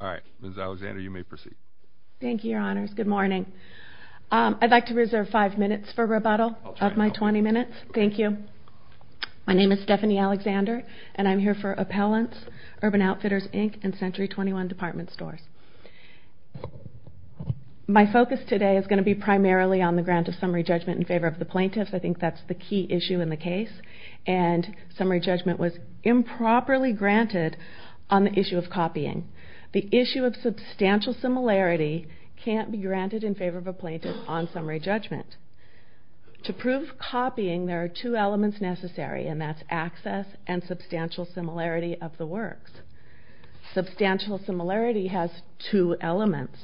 All right, Ms. Alexander, you may proceed. Thank you, Your Honors. Good morning. I'd like to reserve five minutes for rebuttal of my 20 minutes. Thank you. My name is Stephanie Alexander, and I'm here for Appellants, Urban Outfitters, Inc., and Century 21 Department Stores. My focus today is going to be primarily on the grant of summary judgment in favor of the plaintiffs. I think that's the key issue in the case. And summary judgment was improperly granted on the issue of copying. The issue of substantial similarity can't be granted in favor of a plaintiff on summary judgment. To prove copying, there are two elements necessary, and that's access and substantial similarity of the works. Substantial similarity has two elements,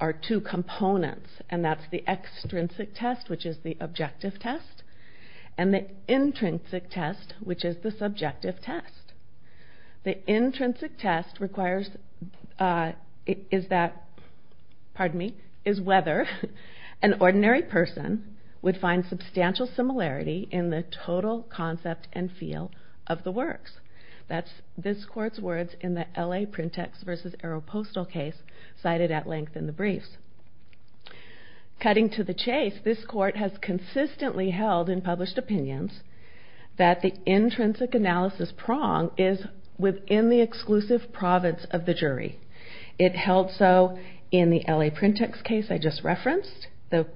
or two components, and that's the extrinsic test, which is the objective test, and the intrinsic test, which is the subjective test. The intrinsic test requires, is that, pardon me, is whether an ordinary person would find substantial similarity in the total concept and feel of the works. That's this court's words in the L.A. Print-Ex v. Aeropostal case cited at length in the briefs. Cutting to the chase, this court has consistently held in published opinions that the intrinsic analysis prong is within the exclusive province of the jury. It held so in the L.A. Print-Ex case I just referenced. The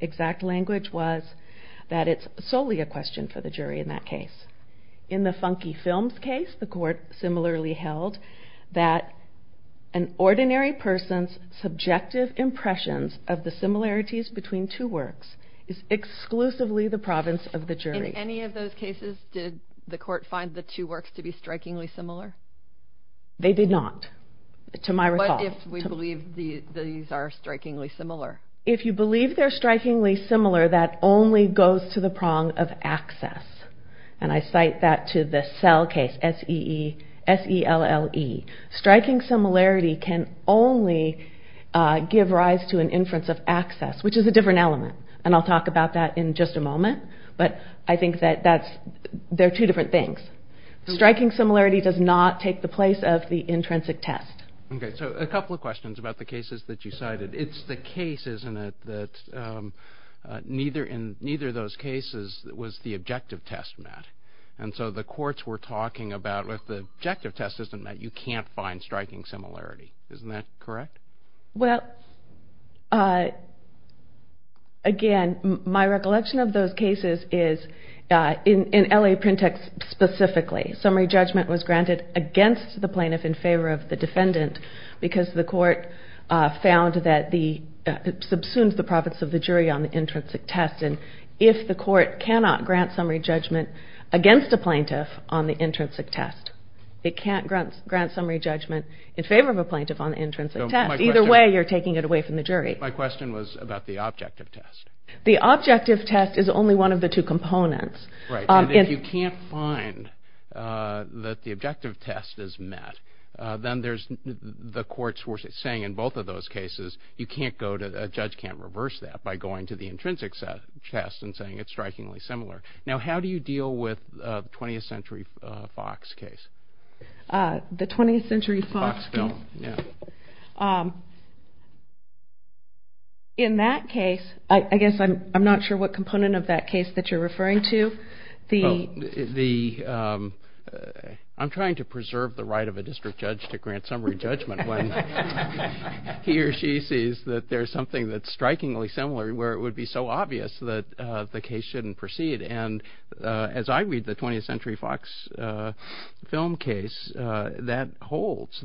exact language was that it's solely a question for the jury in that case. In the Funky Films case, the court similarly held that an ordinary person's subjective impressions of the similarities between two works is exclusively the province of the jury. In any of those cases, did the court find the two works to be strikingly similar? They did not, to my recall. What if we believe these are strikingly similar? If you believe they're strikingly similar, that only goes to the prong of access, and I cite that to the Sell case, S-E-L-L-E. Striking similarity can only give rise to an inference of access, which is a different element, and I'll talk about that in just a moment, but I think that they're two different things. Striking similarity does not take the place of the intrinsic test. Okay, so a couple of questions about the cases that you cited. It's the case, isn't it, that in neither of those cases was the objective test met, and so the courts were talking about if the objective test isn't met, you can't find striking similarity. Isn't that correct? Well, again, my recollection of those cases is in L.A. Printext specifically, summary judgment was granted against the plaintiff in favor of the defendant because the court found that it subsumes the profits of the jury on the intrinsic test, and if the court cannot grant summary judgment against a plaintiff on the intrinsic test, it can't grant summary judgment in favor of a plaintiff on the intrinsic test. Either way, you're taking it away from the jury. My question was about the objective test. The objective test is only one of the two components. Right, and if you can't find that the objective test is met, then the courts were saying in both of those cases a judge can't reverse that by going to the intrinsic test and saying it's strikingly similar. Now, how do you deal with the 20th Century Fox case? The 20th Century Fox case? Fox film, yeah. In that case, I guess I'm not sure what component of that case that you're referring to. I'm trying to preserve the right of a district judge to grant summary judgment when he or she sees that there's something that's strikingly similar where it would be so obvious that the case shouldn't proceed, and as I read the 20th Century Fox film case, that holds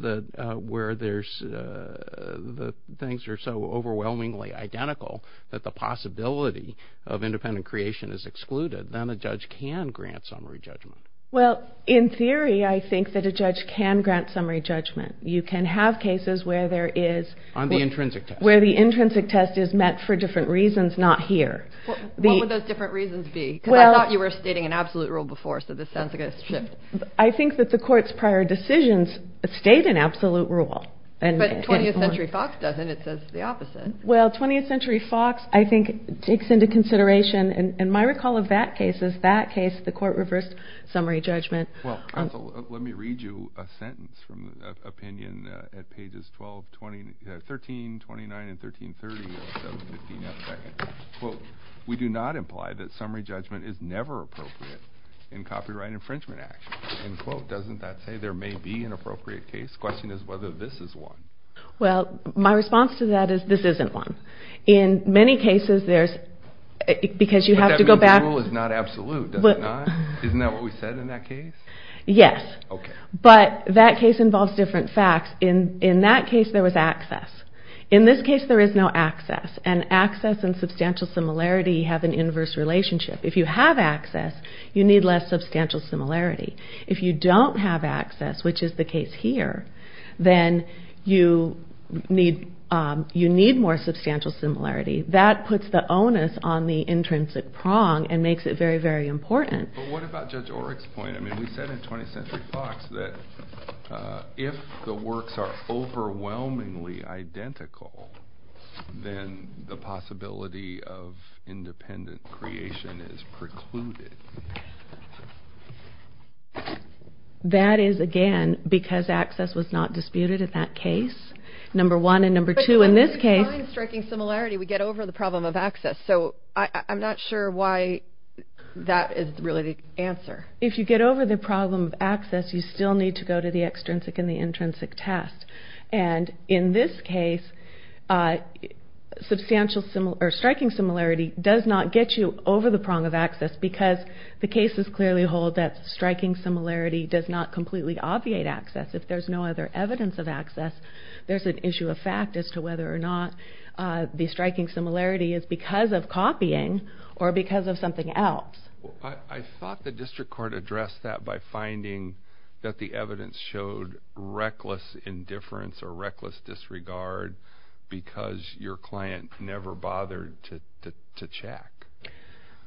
where the things are so overwhelmingly identical that the possibility of independent creation is excluded, then a judge can grant summary judgment. Well, in theory, I think that a judge can grant summary judgment. You can have cases where there is – On the intrinsic test. Where the intrinsic test is met for different reasons, not here. What would those different reasons be? Because I thought you were stating an absolute rule before, so this sounds like a shift. I think that the court's prior decisions state an absolute rule. But 20th Century Fox doesn't. It says the opposite. Well, 20th Century Fox, I think, takes into consideration, and my recall of that case is that case, the court reversed summary judgment. Well, counsel, let me read you a sentence from the opinion at pages 12, 13, 29, and 13, 30. Quote, we do not imply that summary judgment is never appropriate in copyright infringement action. End quote. Doesn't that say there may be an appropriate case? The question is whether this is one. Well, my response to that is this isn't one. In many cases, there's – because you have to go back – But that means the rule is not absolute, does it not? Isn't that what we said in that case? Yes. Okay. But that case involves different facts. In that case, there was access. In this case, there is no access. And access and substantial similarity have an inverse relationship. If you have access, you need less substantial similarity. If you don't have access, which is the case here, then you need more substantial similarity. That puts the onus on the intrinsic prong and makes it very, very important. But what about Judge Oreck's point? I mean, we said in 20th Century Fox that if the works are overwhelmingly identical, then the possibility of independent creation is precluded. That is, again, because access was not disputed in that case, number one. And number two, in this case – But when we find striking similarity, we get over the problem of access. So I'm not sure why that is really the answer. If you get over the problem of access, you still need to go to the extrinsic and the intrinsic test. And in this case, striking similarity does not get you over the prong of access because the cases clearly hold that striking similarity does not completely obviate access. If there's no other evidence of access, there's an issue of fact as to whether or not the striking similarity is because of copying or because of something else. I thought the district court addressed that by finding that the evidence showed reckless indifference or reckless disregard because your client never bothered to check.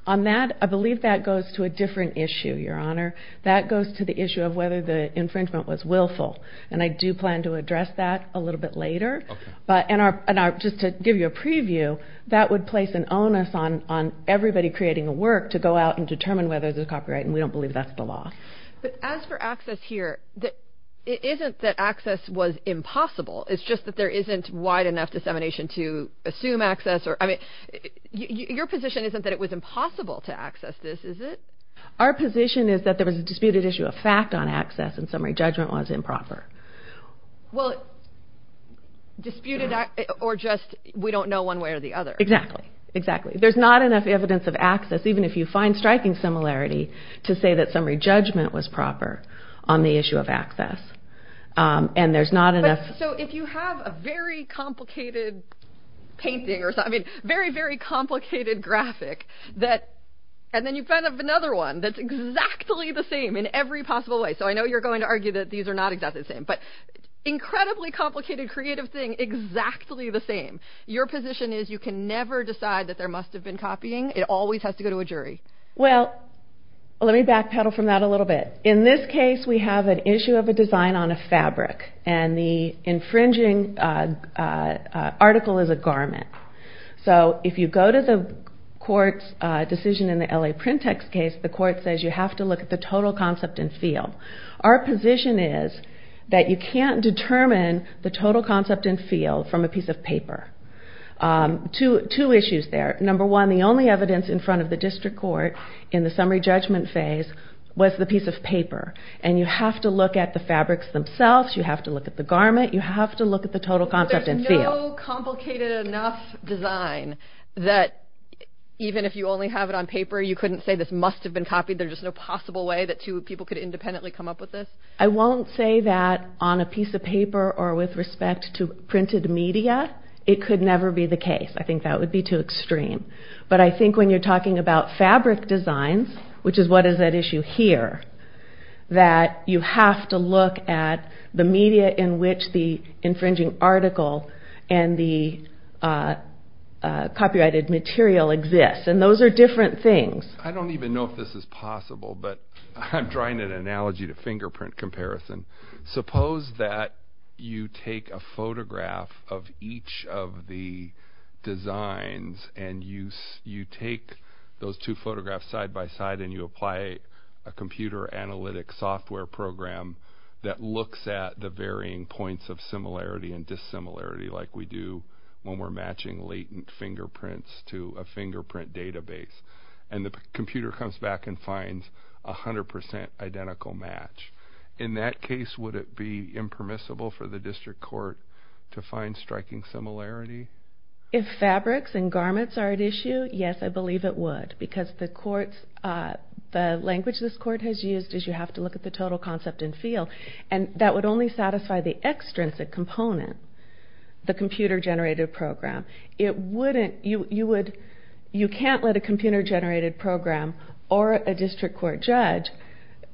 On that, I believe that goes to a different issue, Your Honor. That goes to the issue of whether the infringement was willful. And I do plan to address that a little bit later. But just to give you a preview, that would place an onus on everybody creating a work to go out and determine whether there's a copyright, and we don't believe that's the law. But as for access here, it isn't that access was impossible. It's just that there isn't wide enough dissemination to assume access. I mean, your position isn't that it was impossible to access this, is it? Our position is that there was a disputed issue of fact on access, and summary judgment was improper. Well, disputed or just we don't know one way or the other. Exactly, exactly. There's not enough evidence of access, even if you find striking similarity, to say that summary judgment was proper on the issue of access. And there's not enough. So if you have a very complicated painting or something, very, very complicated graphic, and then you find another one that's exactly the same in every possible way. So I know you're going to argue that these are not exactly the same. But incredibly complicated creative thing, exactly the same. Your position is you can never decide that there must have been copying. It always has to go to a jury. Well, let me backpedal from that a little bit. In this case, we have an issue of a design on a fabric. And the infringing article is a garment. So if you go to the court's decision in the L.A. Print Text case, the court says you have to look at the total concept and feel. Our position is that you can't determine the total concept and feel from a piece of paper. Two issues there. Number one, the only evidence in front of the district court in the summary judgment phase was the piece of paper. And you have to look at the fabrics themselves. You have to look at the garment. You have to look at the total concept and feel. There's no complicated enough design that even if you only have it on paper, you couldn't say this must have been copied. There's just no possible way that two people could independently come up with this? I won't say that on a piece of paper or with respect to printed media. It could never be the case. I think that would be too extreme. But I think when you're talking about fabric designs, which is what is at issue here, that you have to look at the media in which the infringing article and the copyrighted material exists. And those are different things. I don't even know if this is possible, but I'm drawing an analogy to fingerprint comparison. Suppose that you take a photograph of each of the designs and you take those two photographs side by side and you apply a computer analytic software program that looks at the varying points of similarity and dissimilarity like we do when we're matching latent fingerprints to a fingerprint database. And the computer comes back and finds a 100% identical match. In that case, would it be impermissible for the district court to find striking similarity? If fabrics and garments are at issue, yes, I believe it would. Because the language this court has used is you have to look at the total concept and feel. And that would only satisfy the extrinsic component, the computer-generated program. You can't let a computer-generated program or a district court judge,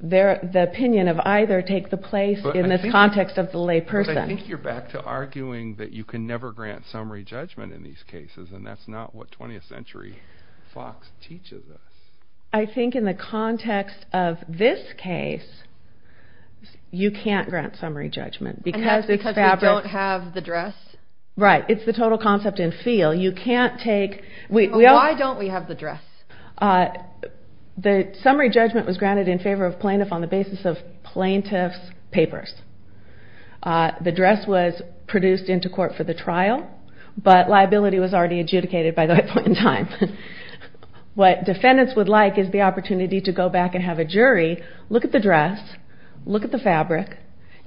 the opinion of either, take the place in this context of the layperson. But I think you're back to arguing that you can never grant summary judgment in these cases, and that's not what 20th century Fox teaches us. I think in the context of this case, you can't grant summary judgment. And that's because we don't have the dress? Right. It's the total concept and feel. Why don't we have the dress? The summary judgment was granted in favor of plaintiff on the basis of plaintiff's papers. The dress was produced into court for the trial, but liability was already adjudicated by that point in time. What defendants would like is the opportunity to go back and have a jury look at the dress, look at the fabric,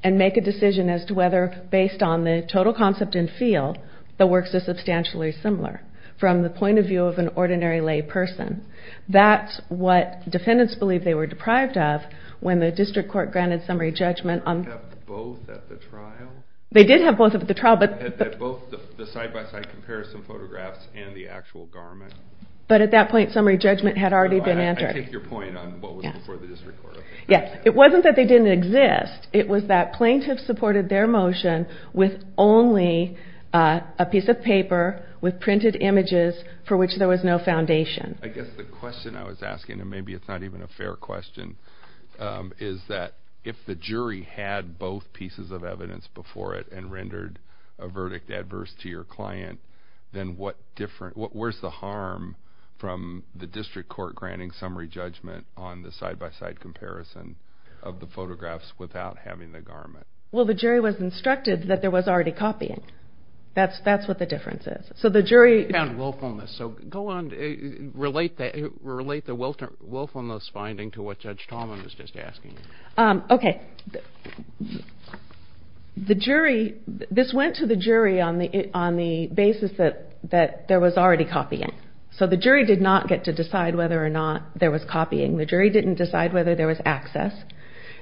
and make a decision as to whether, based on the total concept and feel, the works are substantially similar from the point of view of an ordinary layperson. That's what defendants believe they were deprived of when the district court granted summary judgment on... They didn't have both at the trial? They did have both at the trial, but... Both the side-by-side comparison photographs and the actual garment. But at that point, summary judgment had already been entered. I take your point on what was before the district court. Yes. It wasn't that they didn't exist. It was that plaintiffs supported their motion with only a piece of paper with printed images for which there was no foundation. I guess the question I was asking, and maybe it's not even a fair question, is that if the jury had both pieces of evidence before it and rendered a verdict adverse to your client, then where's the harm from the district court granting summary judgment on the side-by-side comparison of the photographs without having the garment? Well, the jury was instructed that there was already copying. That's what the difference is. So the jury... ...found willfulness. So go on. Relate the willfulness finding to what Judge Tallman was just asking. Okay. The jury... This went to the jury on the basis that there was already copying. So the jury did not get to decide whether or not there was copying. The jury didn't decide whether there was access.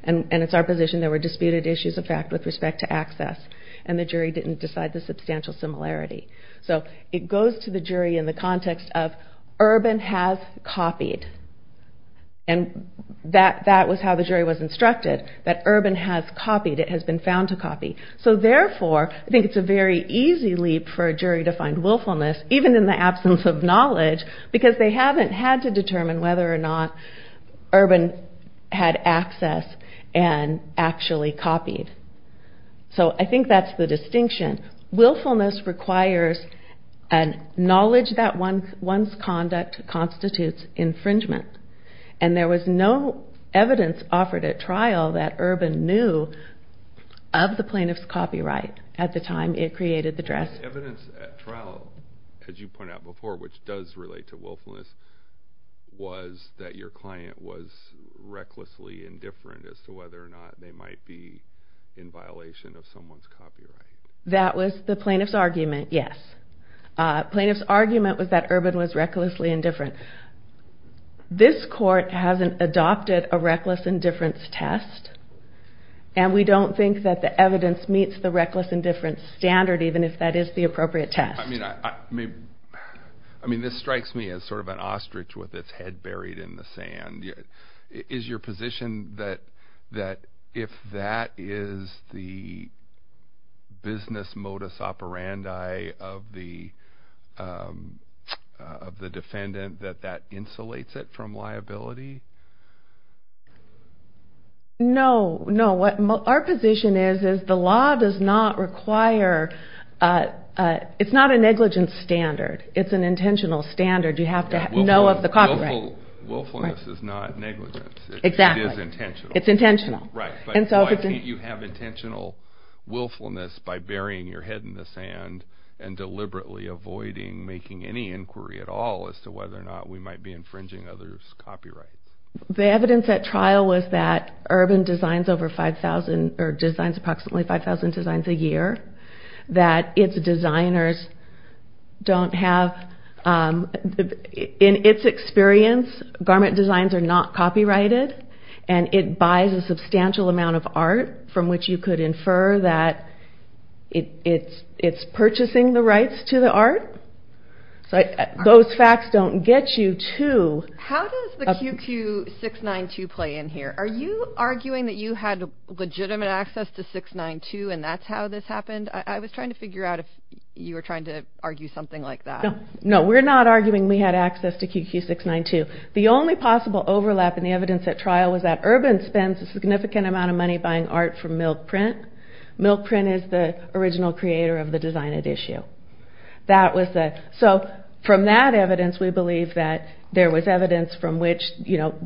And it's our position there were disputed issues of fact with respect to access. And the jury didn't decide the substantial similarity. So it goes to the jury in the context of Urban has copied. And that was how the jury was instructed, that Urban has copied. It has been found to copy. So therefore, I think it's a very easy leap for a jury to find willfulness, even in the absence of knowledge, because they haven't had to determine whether or not Urban had access and actually copied. So I think that's the distinction. Willfulness requires a knowledge that one's conduct constitutes infringement. And there was no evidence offered at trial that Urban knew of the plaintiff's copyright at the time it created the dress. Evidence at trial, as you pointed out before, which does relate to willfulness, was that your client was recklessly indifferent as to whether or not they might be in violation of someone's copyright. That was the plaintiff's argument, yes. Plaintiff's argument was that Urban was recklessly indifferent. This court hasn't adopted a reckless indifference test, and we don't think that the evidence meets the reckless indifference standard, even if that is the appropriate test. I mean, this strikes me as sort of an ostrich with its head buried in the sand. Is your position that if that is the business modus operandi of the defendant, that that insulates it from liability? No, no. Our position is the law does not require – it's not a negligence standard. It's an intentional standard. You have to know of the copyright. Willfulness is not negligence. Exactly. It is intentional. It's intentional. Right, but why can't you have intentional willfulness by burying your head in the sand and deliberately avoiding making any inquiry at all as to whether or not we might be infringing others' copyrights? The evidence at trial was that Urban designs approximately 5,000 designs a year, that its designers don't have – in its experience, garment designs are not copyrighted, and it buys a substantial amount of art from which you could infer that it's purchasing the rights to the art. So those facts don't get you to – How does the QQ-692 play in here? Are you arguing that you had legitimate access to 692 and that's how this happened? I was trying to figure out if you were trying to argue something like that. No, we're not arguing we had access to QQ-692. The only possible overlap in the evidence at trial was that Urban spends a significant amount of money buying art from Milk Print. Milk Print is the original creator of the design at issue. So from that evidence, we believe that there was evidence from which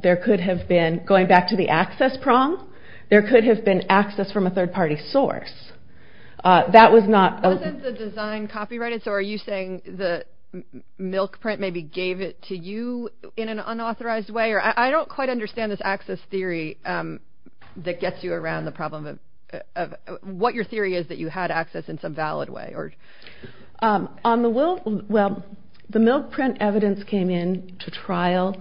there could have been – going back to the access prong, there could have been access from a third-party source. That was not – Wasn't the design copyrighted? So are you saying that Milk Print maybe gave it to you in an unauthorized way? I don't quite understand this access theory that gets you around the problem of what your theory is that you had access in some valid way. Well, the Milk Print evidence came in to trial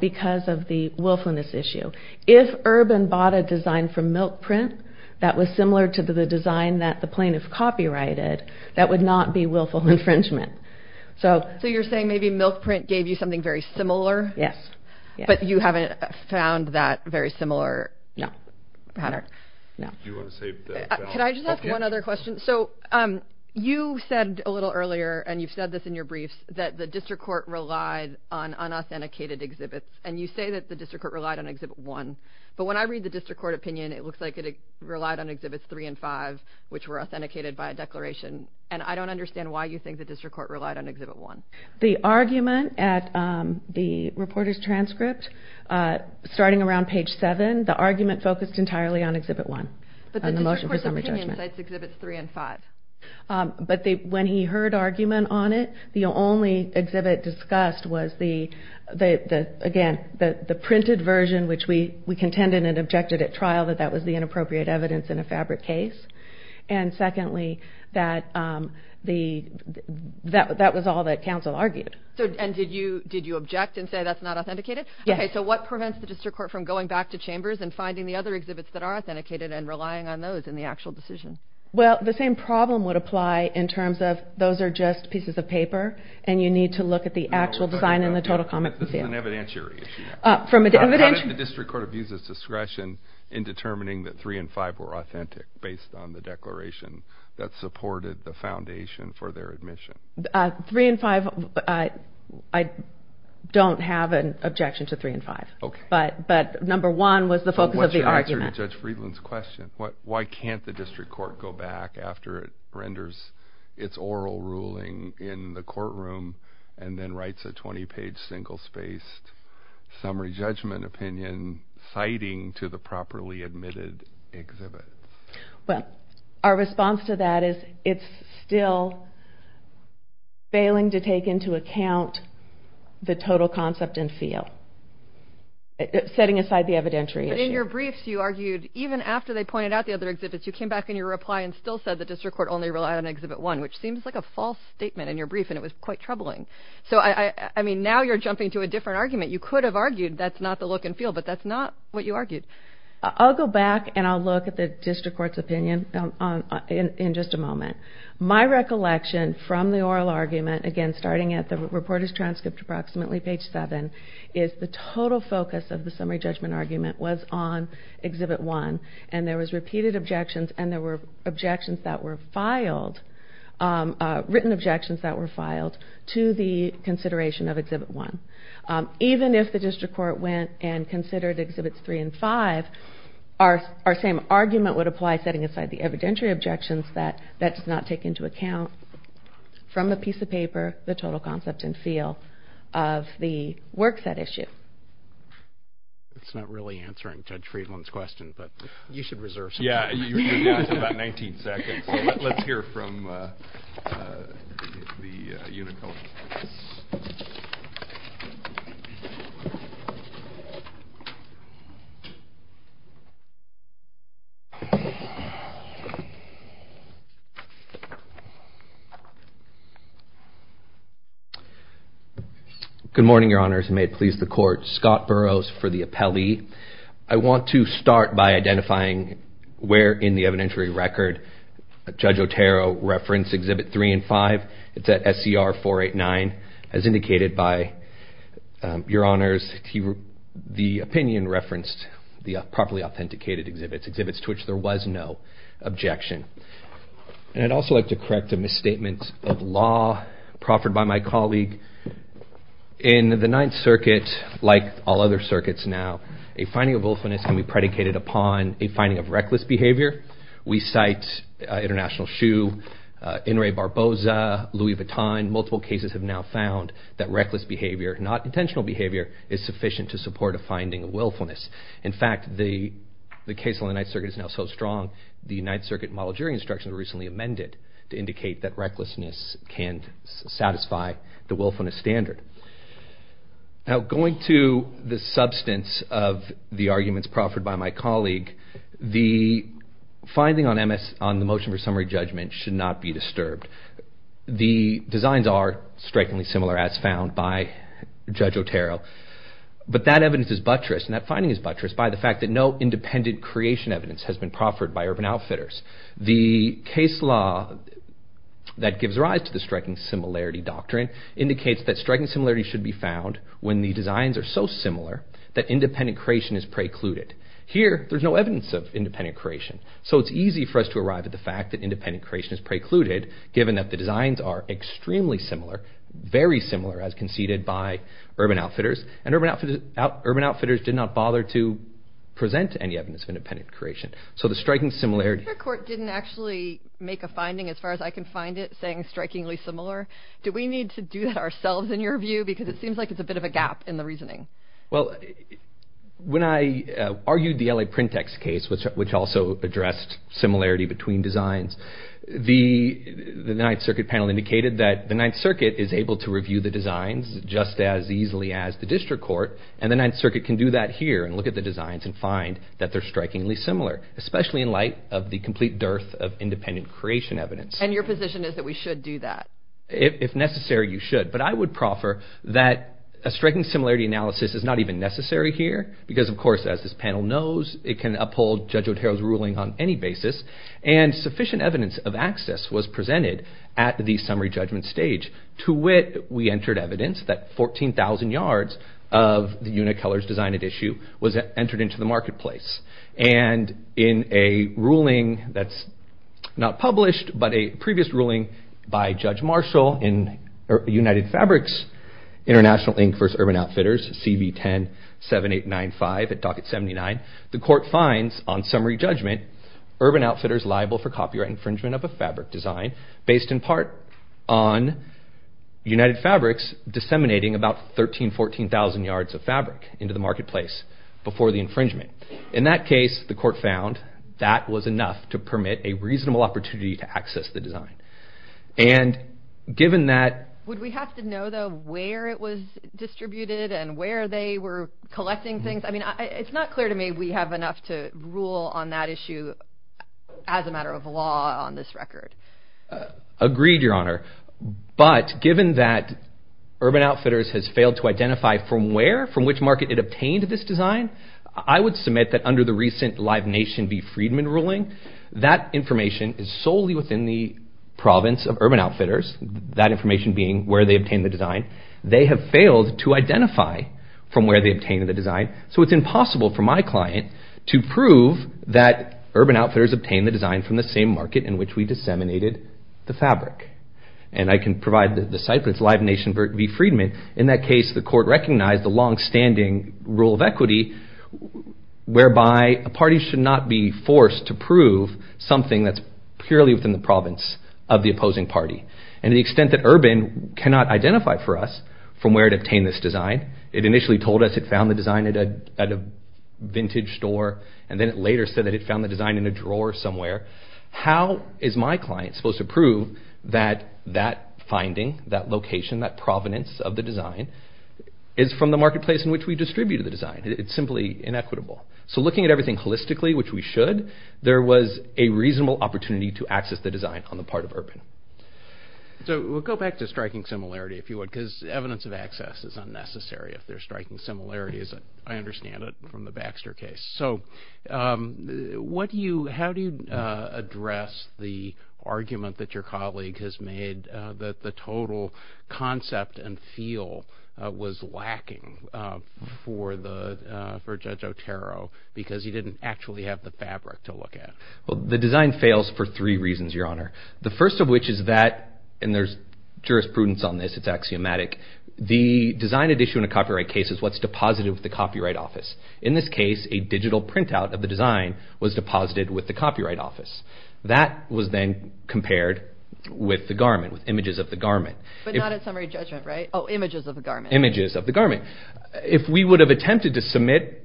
because of the willfulness issue. If Urban bought a design from Milk Print that was similar to the design that the plaintiff copyrighted, that would not be willful infringement. So you're saying maybe Milk Print gave you something very similar? Yes. But you haven't found that very similar pattern? No. Do you want to say – Can I just ask one other question? So you said a little earlier, and you've said this in your briefs, that the district court relied on unauthenticated exhibits. And you say that the district court relied on Exhibit 1. But when I read the district court opinion, it looks like it relied on Exhibits 3 and 5, which were authenticated by a declaration. And I don't understand why you think the district court relied on Exhibit 1. The argument at the reporter's transcript, starting around page 7, the argument focused entirely on Exhibit 1. But the district court's opinion cites Exhibits 3 and 5. But when he heard argument on it, the only exhibit discussed was, again, the printed version, which we contended and objected at trial that that was the inappropriate evidence in a fabric case. And secondly, that was all that counsel argued. And did you object and say that's not authenticated? Yes. Okay, so what prevents the district court from going back to Chambers and finding the other exhibits that are authenticated and relying on those in the actual decision? Well, the same problem would apply in terms of those are just pieces of paper and you need to look at the actual design in the total comics. This is an evidentiary issue. How did the district court abuse its discretion in determining that 3 and 5 were authentic based on the declaration that supported the foundation for their admission? 3 and 5, I don't have an objection to 3 and 5. But number one was the focus of the argument. What's your answer to Judge Friedland's question? Why can't the district court go back after it renders its oral ruling in the courtroom and then writes a 20-page single-spaced summary judgment opinion citing to the properly admitted exhibit? Well, our response to that is it's still failing to take into account the total concept and feel, setting aside the evidentiary issue. But in your briefs, you argued even after they pointed out the other exhibits, you came back in your reply and still said the district court only relied on exhibit 1, which seems like a false statement in your brief, and it was quite troubling. So, I mean, now you're jumping to a different argument. You could have argued that's not the look and feel, but that's not what you argued. I'll go back and I'll look at the district court's opinion in just a moment. My recollection from the oral argument, again, starting at the reporter's transcript approximately page 7, is the total focus of the summary judgment argument was on exhibit 1, and there was repeated objections and there were objections that were filed, written objections that were filed to the consideration of exhibit 1. Even if the district court went and considered exhibits 3 and 5, our same argument would apply setting aside the evidentiary objections that that's not taken into account from the piece of paper, the total concept and feel of the work set issue. It's not really answering Judge Friedland's question, but you should reserve some time. You have about 19 seconds. Let's hear from the unit colleagues. Good morning, Your Honors. May it please the Court. Scott Burrows for the appellee. I want to start by identifying where in the evidentiary record Judge Otero referenced exhibit 3 and 5. It's at SCR 489. As indicated by Your Honors, the opinion referenced the properly authenticated exhibits, exhibits to which there was no objection. And I'd also like to correct a misstatement of law proffered by my colleague. In the Ninth Circuit, like all other circuits now, a finding of willfulness can be predicated upon a finding of reckless behavior. We cite International Shoe, In re Barboza, Louis Vuitton. Multiple cases have now found that reckless behavior, not intentional behavior, is sufficient to support a finding of willfulness. In fact, the case on the Ninth Circuit is now so strong, the Ninth Circuit Model Jury Instructions were recently amended to indicate that recklessness can satisfy the willfulness standard. Now, going to the substance of the arguments proffered by my colleague, the finding on the motion for summary judgment should not be disturbed. The designs are strikingly similar, as found by Judge Otero. But that evidence is buttress, and that finding is buttress, by the fact that no independent creation evidence has been proffered by Urban Outfitters. The case law that gives rise to the striking similarity doctrine indicates that striking similarity should be found when the designs are so similar that independent creation is precluded. Here, there's no evidence of independent creation, so it's easy for us to arrive at the fact that independent creation is precluded, given that the designs are extremely similar, very similar, as conceded by Urban Outfitters, and Urban Outfitters did not bother to present any evidence of independent creation. So the striking similarity... The district court didn't actually make a finding, as far as I can find it, saying strikingly similar. Do we need to do that ourselves, in your view? Because it seems like it's a bit of a gap in the reasoning. Well, when I argued the L.A. Printext case, which also addressed similarity between designs, the Ninth Circuit panel indicated that the Ninth Circuit is able to review the designs just as easily as the district court, and the Ninth Circuit can do that here, and look at the designs and find that they're strikingly similar, especially in light of the complete dearth of independent creation evidence. And your position is that we should do that? If necessary, you should. But I would proffer that a striking similarity analysis is not even necessary here, because, of course, as this panel knows, it can uphold Judge Otero's ruling on any basis, and sufficient evidence of access was presented at the summary judgment stage, to which we entered evidence that 14,000 yards of the Unicolor's design at issue was entered into the marketplace. And in a ruling that's not published, but a previous ruling by Judge Marshall in United Fabrics International Inc. v. Urban Outfitters, CV 10-7895 at Docket 79, the court finds, on summary judgment, Urban Outfitters liable for copyright infringement of a fabric design based in part on United Fabrics disseminating about 13,000-14,000 yards of fabric into the marketplace before the infringement. In that case, the court found, that was enough to permit a reasonable opportunity to access the design. And given that... Would we have to know, though, where it was distributed, and where they were collecting things? I mean, it's not clear to me we have enough to rule on that issue as a matter of law on this record. Agreed, Your Honor. But given that Urban Outfitters has failed to identify from where, from which market it obtained this design, I would submit that under the recent Live Nation v. Friedman ruling, that information is solely within the province of Urban Outfitters, that information being where they obtained the design. They have failed to identify from where they obtained the design. So it's impossible for my client to prove that Urban Outfitters obtained the design from the same market in which we disseminated the fabric. And I can provide the site, but it's Live Nation v. Friedman. In that case, the court recognized the long-standing rule of equity, whereby a party should not be forced to prove something that's purely within the province of the opposing party. And to the extent that Urban cannot identify for us from where it obtained this design, it initially told us it found the design at a vintage store, and then it later said that it found the design in a drawer somewhere. How is my client supposed to prove that that finding, that location, that provenance of the design, is from the marketplace in which we distributed the design? It's simply inequitable. So looking at everything holistically, which we should, there was a reasonable opportunity to access the design on the part of Urban. So we'll go back to striking similarity, if you would, because evidence of access is unnecessary if there's striking similarities, I understand it, from the Baxter case. So how do you address the argument that your colleague has made that the total concept and feel was lacking for Judge Otero because he didn't actually have the fabric to look at? Well, the design fails for three reasons, Your Honor. The first of which is that, and there's jurisprudence on this, it's axiomatic, the design at issue in a copyright case is what's deposited with the Copyright Office. In this case, a digital printout of the design was deposited with the Copyright Office. That was then compared with the garment, with images of the garment. But not at summary judgment, right? Oh, images of the garment. Images of the garment. If we would have attempted to submit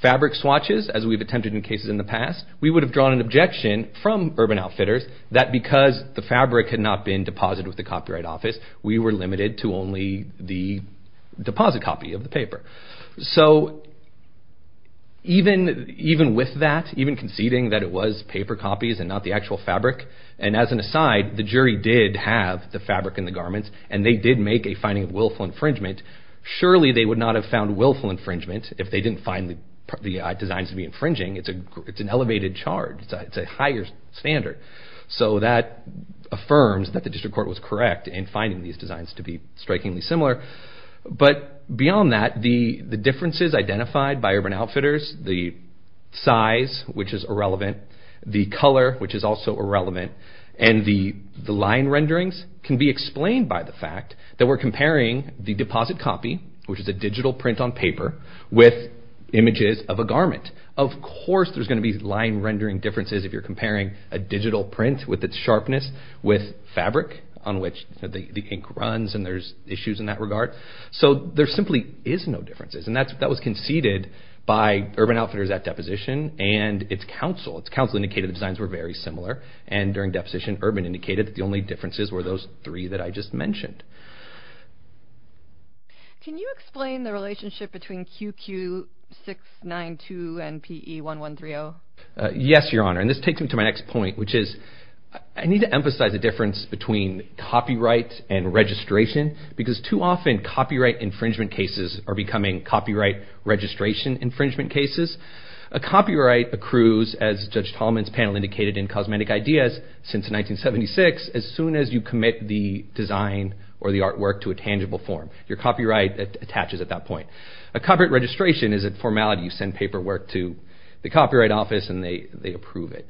fabric swatches, as we've attempted in cases in the past, we would have drawn an objection from Urban Outfitters that because the fabric had not been deposited with the Copyright Office, we were limited to only the deposit copy of the paper. So even with that, even conceding that it was paper copies and not the actual fabric, and as an aside, the jury did have the fabric in the garments and they did make a finding of willful infringement. Surely they would not have found willful infringement if they didn't find the designs to be infringing. It's an elevated charge. It's a higher standard. So that affirms that the District Court was correct in finding these designs to be strikingly similar. But beyond that, the differences identified by Urban Outfitters, the size, which is irrelevant, the color, which is also irrelevant, and the line renderings can be explained by the fact that we're comparing the deposit copy, which is a digital print on paper, with images of a garment. Of course there's going to be line rendering differences if you're comparing a digital print with its sharpness with fabric on which the ink runs, and there's issues in that regard. So there simply is no differences, and that was conceded by Urban Outfitters at deposition and its counsel. Its counsel indicated the designs were very similar, and during deposition, Urban indicated that the only differences were those three that I just mentioned. Can you explain the relationship between QQ-692 and PE-1130? Yes, Your Honor, and this takes me to my next point, which is I need to emphasize the difference between copyright and registration because too often copyright infringement cases are becoming copyright registration infringement cases. A copyright accrues, as Judge Tallman's panel indicated in Cosmetic Ideas since 1976, as soon as you commit the design or the artwork to a tangible form. Your copyright attaches at that point. A copyright registration is a formality. You send paperwork to the Copyright Office, and they approve it.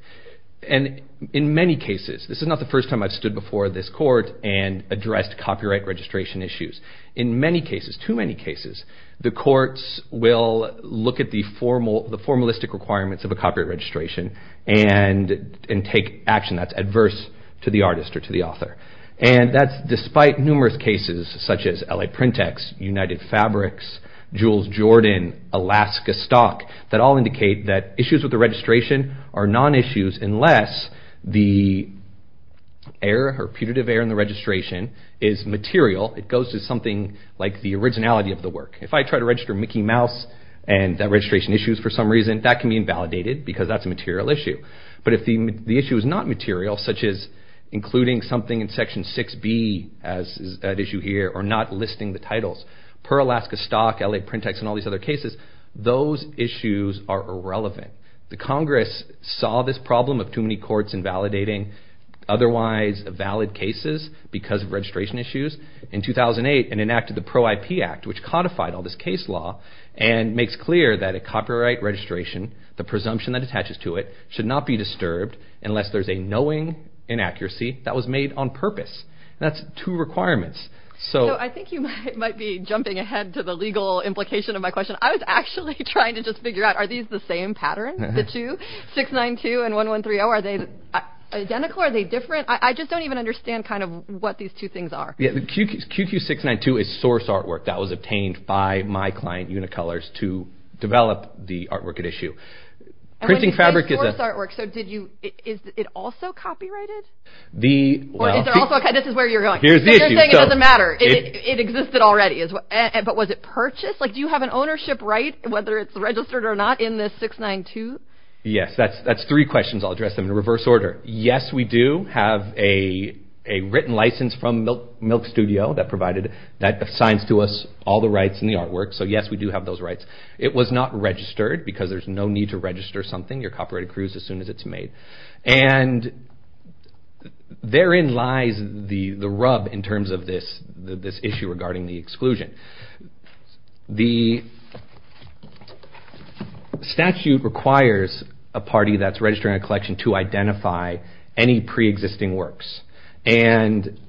And in many cases, this is not the first time I've stood before this court and addressed copyright registration issues. In many cases, too many cases, the courts will look at the formalistic requirements of a copyright registration and take action that's adverse to the artist or to the author. And that's despite numerous cases such as LA PrintEx, United Fabrics, Jules Jordan, Alaska Stock, that all indicate that issues with the registration are non-issues unless the error or putative error in the registration is material. It goes to something like the originality of the work. If I try to register Mickey Mouse and that registration issues for some reason, that can be invalidated because that's a material issue. But if the issue is not material, such as including something in Section 6B, as is at issue here, or not listing the titles, per Alaska Stock, LA PrintEx, and all these other cases, those issues are irrelevant. The Congress saw this problem of too many courts invalidating otherwise valid cases because of registration issues in 2008 and enacted the Pro-IP Act, which codified all this case law and makes clear that a copyright registration, the presumption that attaches to it, should not be disturbed unless there's a knowing inaccuracy that was made on purpose. That's two requirements. So I think you might be jumping ahead to the legal implication of my question. I was actually trying to just figure out, are these the same patterns, the two? 692 and 1130, are they identical? Are they different? I just don't even understand what these two things are. QQ692 is source artwork that was obtained by my client, Unicolors, to develop the artwork at issue. And when you say source artwork, is it also copyrighted? Or is there also a... This is where you're going. You're saying it doesn't matter. It existed already. But was it purchased? Do you have an ownership right, whether it's registered or not, in this 692? Yes, that's three questions. I'll address them in reverse order. Yes, we do have a written license from Milk Studio that provided, that assigns to us all the rights in the artwork. So yes, we do have those rights. It was not registered because there's no need to register something. Your copyright accrues as soon as it's made. And therein lies the rub in terms of this issue regarding the exclusion. The statute requires a party that's registering a collection to identify any pre-existing works. And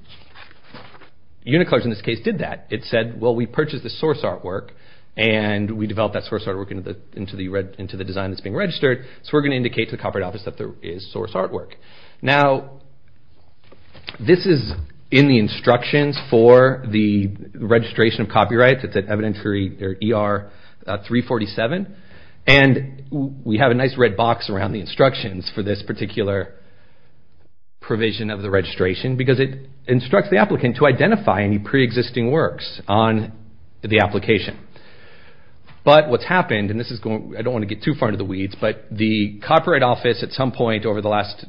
Unicolors, in this case, did that. It said, well, we purchased the source artwork and we developed that source artwork into the design that's being registered. So we're going to indicate to the Copyright Office that there is source artwork. Now, this is in the instructions for the registration of copyright. It's at ER 347. And we have a nice red box around the instructions for this particular provision of the registration because it instructs the applicant to identify any pre-existing works on the application. But what's happened, and I don't want to get too far into the weeds, but the Copyright Office, at some point over the last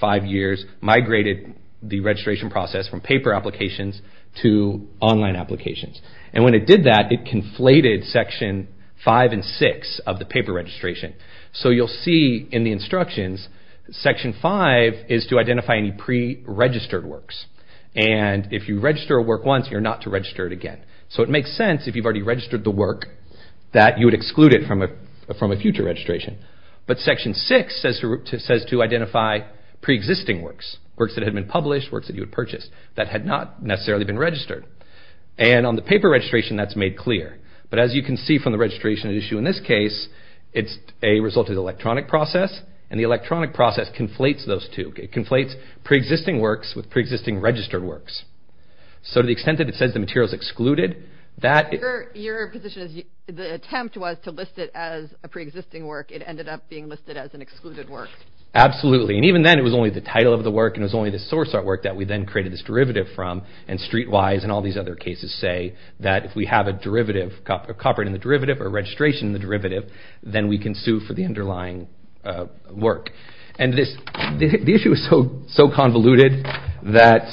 five years, migrated the registration process from paper applications to online applications. And when it did that, it conflated Section 5 and 6 of the paper registration. So you'll see in the instructions, Section 5 is to identify any pre-registered works. And if you register a work once, you're not to register it again. So it makes sense, if you've already registered the work, that you would exclude it from a future registration. But Section 6 says to identify pre-existing works, works that had been published, works that you had purchased, that had not necessarily been registered. And on the paper registration, that's made clear. But as you can see from the registration issue in this case, it's a result of the electronic process. And the electronic process conflates those two. It conflates pre-existing works with pre-existing registered works. So to the extent that it says the material is excluded, that... Your position is the attempt was to list it as a pre-existing work. It ended up being listed as an excluded work. Absolutely. And even then, it was only the title of the work and it was only the source artwork that we then created this derivative from. And Streetwise and all these other cases say that if we have a derivative, a copyright in the derivative or a registration in the derivative, then we can sue for the underlying work. And this... The issue is so convoluted that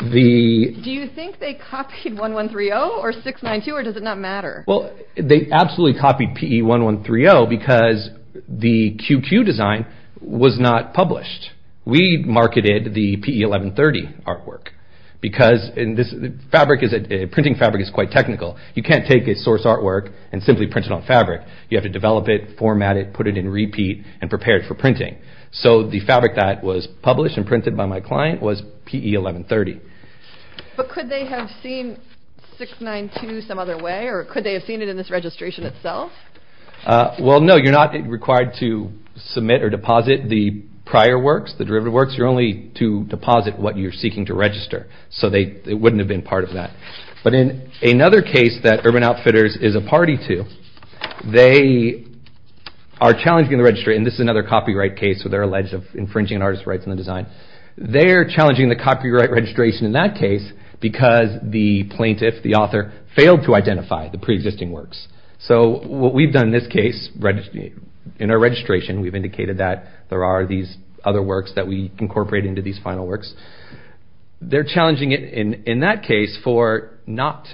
the... Do you think they copied 1130 or 692 or does it not matter? Well, they absolutely copied PE1130 because the QQ design was not published. We marketed the PE1130 artwork because in this... Fabric is... Printing fabric is quite technical. You can't take a source artwork and simply print it on fabric. You have to develop it, format it, put it in repeat, and prepare it for printing. So the fabric that was published and printed by my client was PE1130. But could they have seen 692 some other way or could they have seen it in this registration itself? Well, no. You're not required to submit or deposit the prior works, the derivative works. You're only to deposit what you're seeking to register. So they... It wouldn't have been part of that. But in another case that Urban Outfitters is a party to, they are challenging the registry. And this is another copyright case where they're alleged of infringing an artist's rights in the design. They're challenging the copyright registration in that case because the plaintiff, the author, failed to identify the preexisting works. So what we've done in this case, in our registration, we've indicated that there are these other works that we incorporate into these final works. They're challenging it in that case for not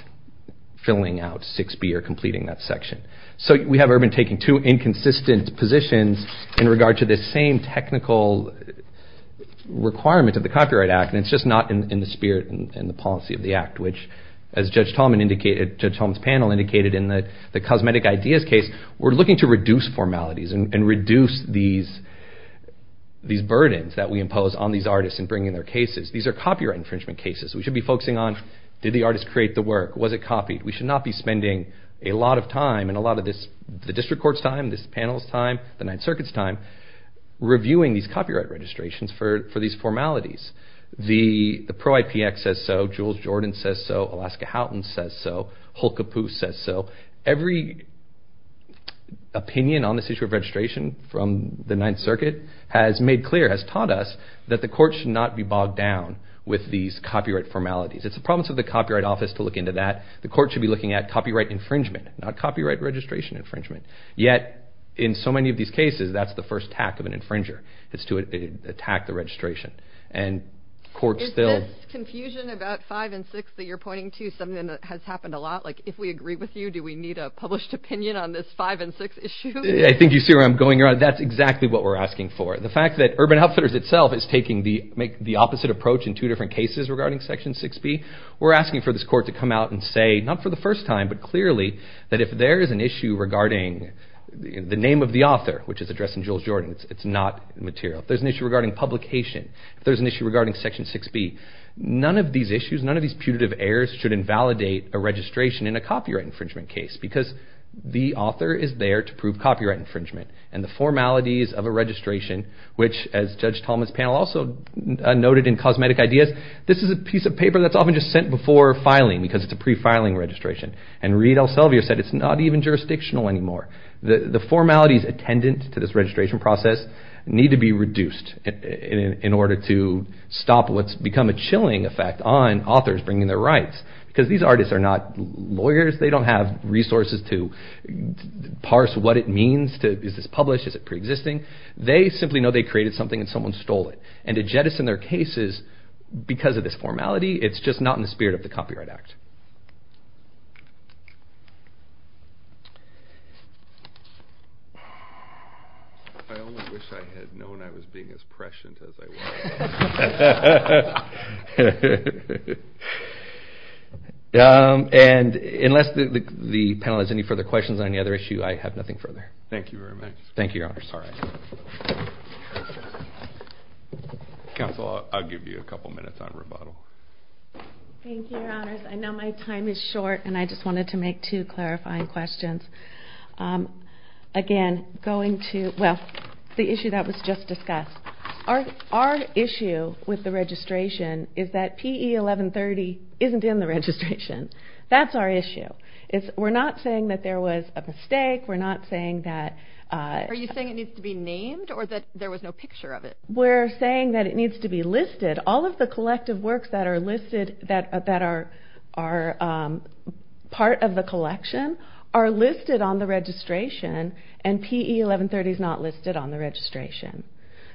filling out 6B or completing that section. So we have Urban taking two inconsistent positions in regard to this same technical requirement of the Copyright Act, and it's just not in the spirit and the policy of the act, which, as Judge Tolman indicated, Judge Tolman's panel indicated in the cosmetic ideas case, we're looking to reduce formalities and reduce these burdens that we impose on these artists in bringing their cases. These are copyright infringement cases. We should be focusing on, did the artist create the work? Was it copied? We should not be spending a lot of time and a lot of this, the district court's time, this panel's time, the Ninth Circuit's time, reviewing these copyright registrations for these formalities. The Pro-IP Act says so. Jules Jordan says so. Alaska Houghton says so. Hulka Poose says so. Every opinion on this issue of registration from the Ninth Circuit has made clear, has taught us, that the court should not be bogged down with these copyright formalities. It's the problems of the Copyright Office to look into that. The court should be looking at copyright infringement, not copyright registration infringement. Yet, in so many of these cases, that's the first attack of an infringer is to attack the registration. And courts still... Is this confusion about 5 and 6 that you're pointing to something that has happened a lot? Like, if we agree with you, do we need a published opinion on this 5 and 6 issue? I think you see where I'm going. That's exactly what we're asking for. The fact that Urban Outfitters itself is taking the opposite approach in two different cases regarding Section 6B, we're asking for this court to come out and say, not for the first time, but clearly, that if there is an issue regarding the name of the author, which is addressed in Jules Jordan, it's not material. If there's an issue regarding publication, if there's an issue regarding Section 6B, none of these issues, none of these putative errors should invalidate a registration in a copyright infringement case because the author is there to prove copyright infringement. And the formalities of a registration, which, as Judge Tolman's panel also noted in Cosmetic Ideas, this is a piece of paper that's often just sent before filing because it's a pre-filing registration. And Reid L. Selvier said, it's not even jurisdictional anymore. The formalities attendant to this registration process need to be reduced in order to stop what's become a chilling effect on authors bringing their rights because these artists are not lawyers. They don't have resources to parse what it means. Is this published? Is it pre-existing? They simply know they created something and someone stole it. And to jettison their cases because of this formality, it's just not in the spirit of the Copyright Act. I only wish I had known I was being as prescient as I was. And unless the panel has any further questions on any other issue, I have nothing further. Thank you very much. Thank you, Your Honors. All right. Counsel, I'll give you a couple minutes on rebuttal. Thank you, Your Honors. I know my time is short and I just wanted to make Our issue is that there's a lot of work that's being done to make sure that there's a fair amount with the registration is that PE 1130 isn't in the registration. That's our issue. We're not saying that there was a mistake, We're not saying that Are you saying it needs to be named or that there was no picture of it? We're saying that it needs to be listed. All of the collective works that are listed that are part of the collection are listed on the registration and PE 1130 is not listed on the registration.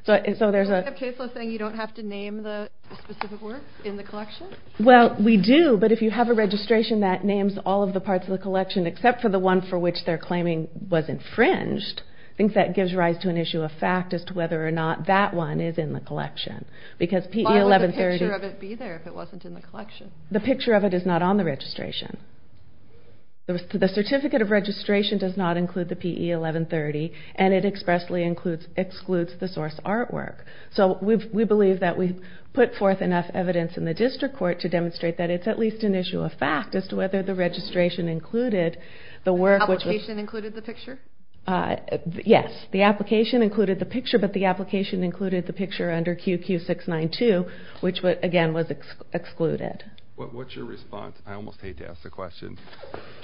You don't have to name the specific work in the collection? Well, we do, but if you have a registration that names all of the parts of the collection except for the one for which they're claiming was infringed, I think that gives rise to an issue of fact as to whether or not that one is in the collection. Why would the picture of it be there if it wasn't in the collection? The picture of it is not on the registration. The certificate of registration does not include the PE 1130 and it expressly excludes the source artwork. So we believe that we put forth enough evidence in the district court to demonstrate that it's at least an issue of fact as to whether the registration included the work which was... The application included the picture? Yes. The application included the picture, but the application included the picture under QQ692, which again was excluded. What's your response? I almost hate to ask the question,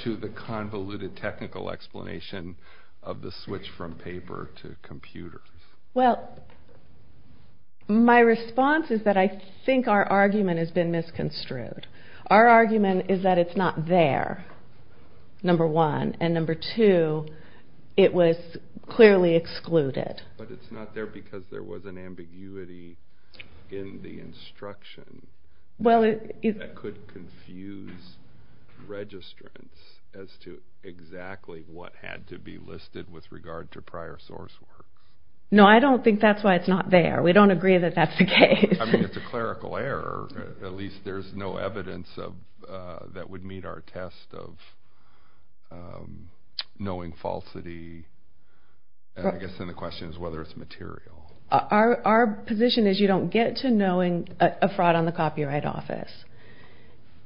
to the convoluted technical explanation of the switch from paper to computers? Well, my response is that I think our argument has been misconstrued. Our argument is that it's not there, number one, and number two, it was clearly excluded. But it's not there because there was an ambiguity in the instruction No, I don't think that's true. I don't think that's true. I don't think that's true. I don't think that's true. I don't think that's not true. I don't think that's why it's not there. We don't agree that that's the case. I mean, it's a clerical error. At least there's no evidence that would meet our test of knowing falsity. I guess then the question is whether it's material. Our position is you don't get to knowing a fraud on the Copyright Office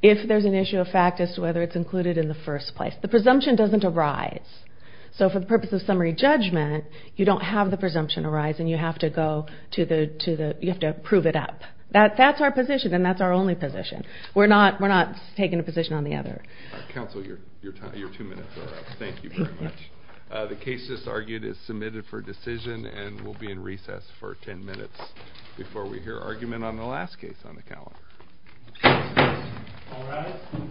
if there's an issue of fact as to whether it's included in the first place. The presumption doesn't arise, so for the purpose of summary judgment, you don't have the presumption arise, and you have to prove it up. That's our position, and that's our only position. We're not taking a position on the other. Counsel, your two minutes are up. Thank you very much. The case that's argued is submitted for decision, and we'll be in recess for ten minutes before we hear argument on the last case on the calendar. All rise.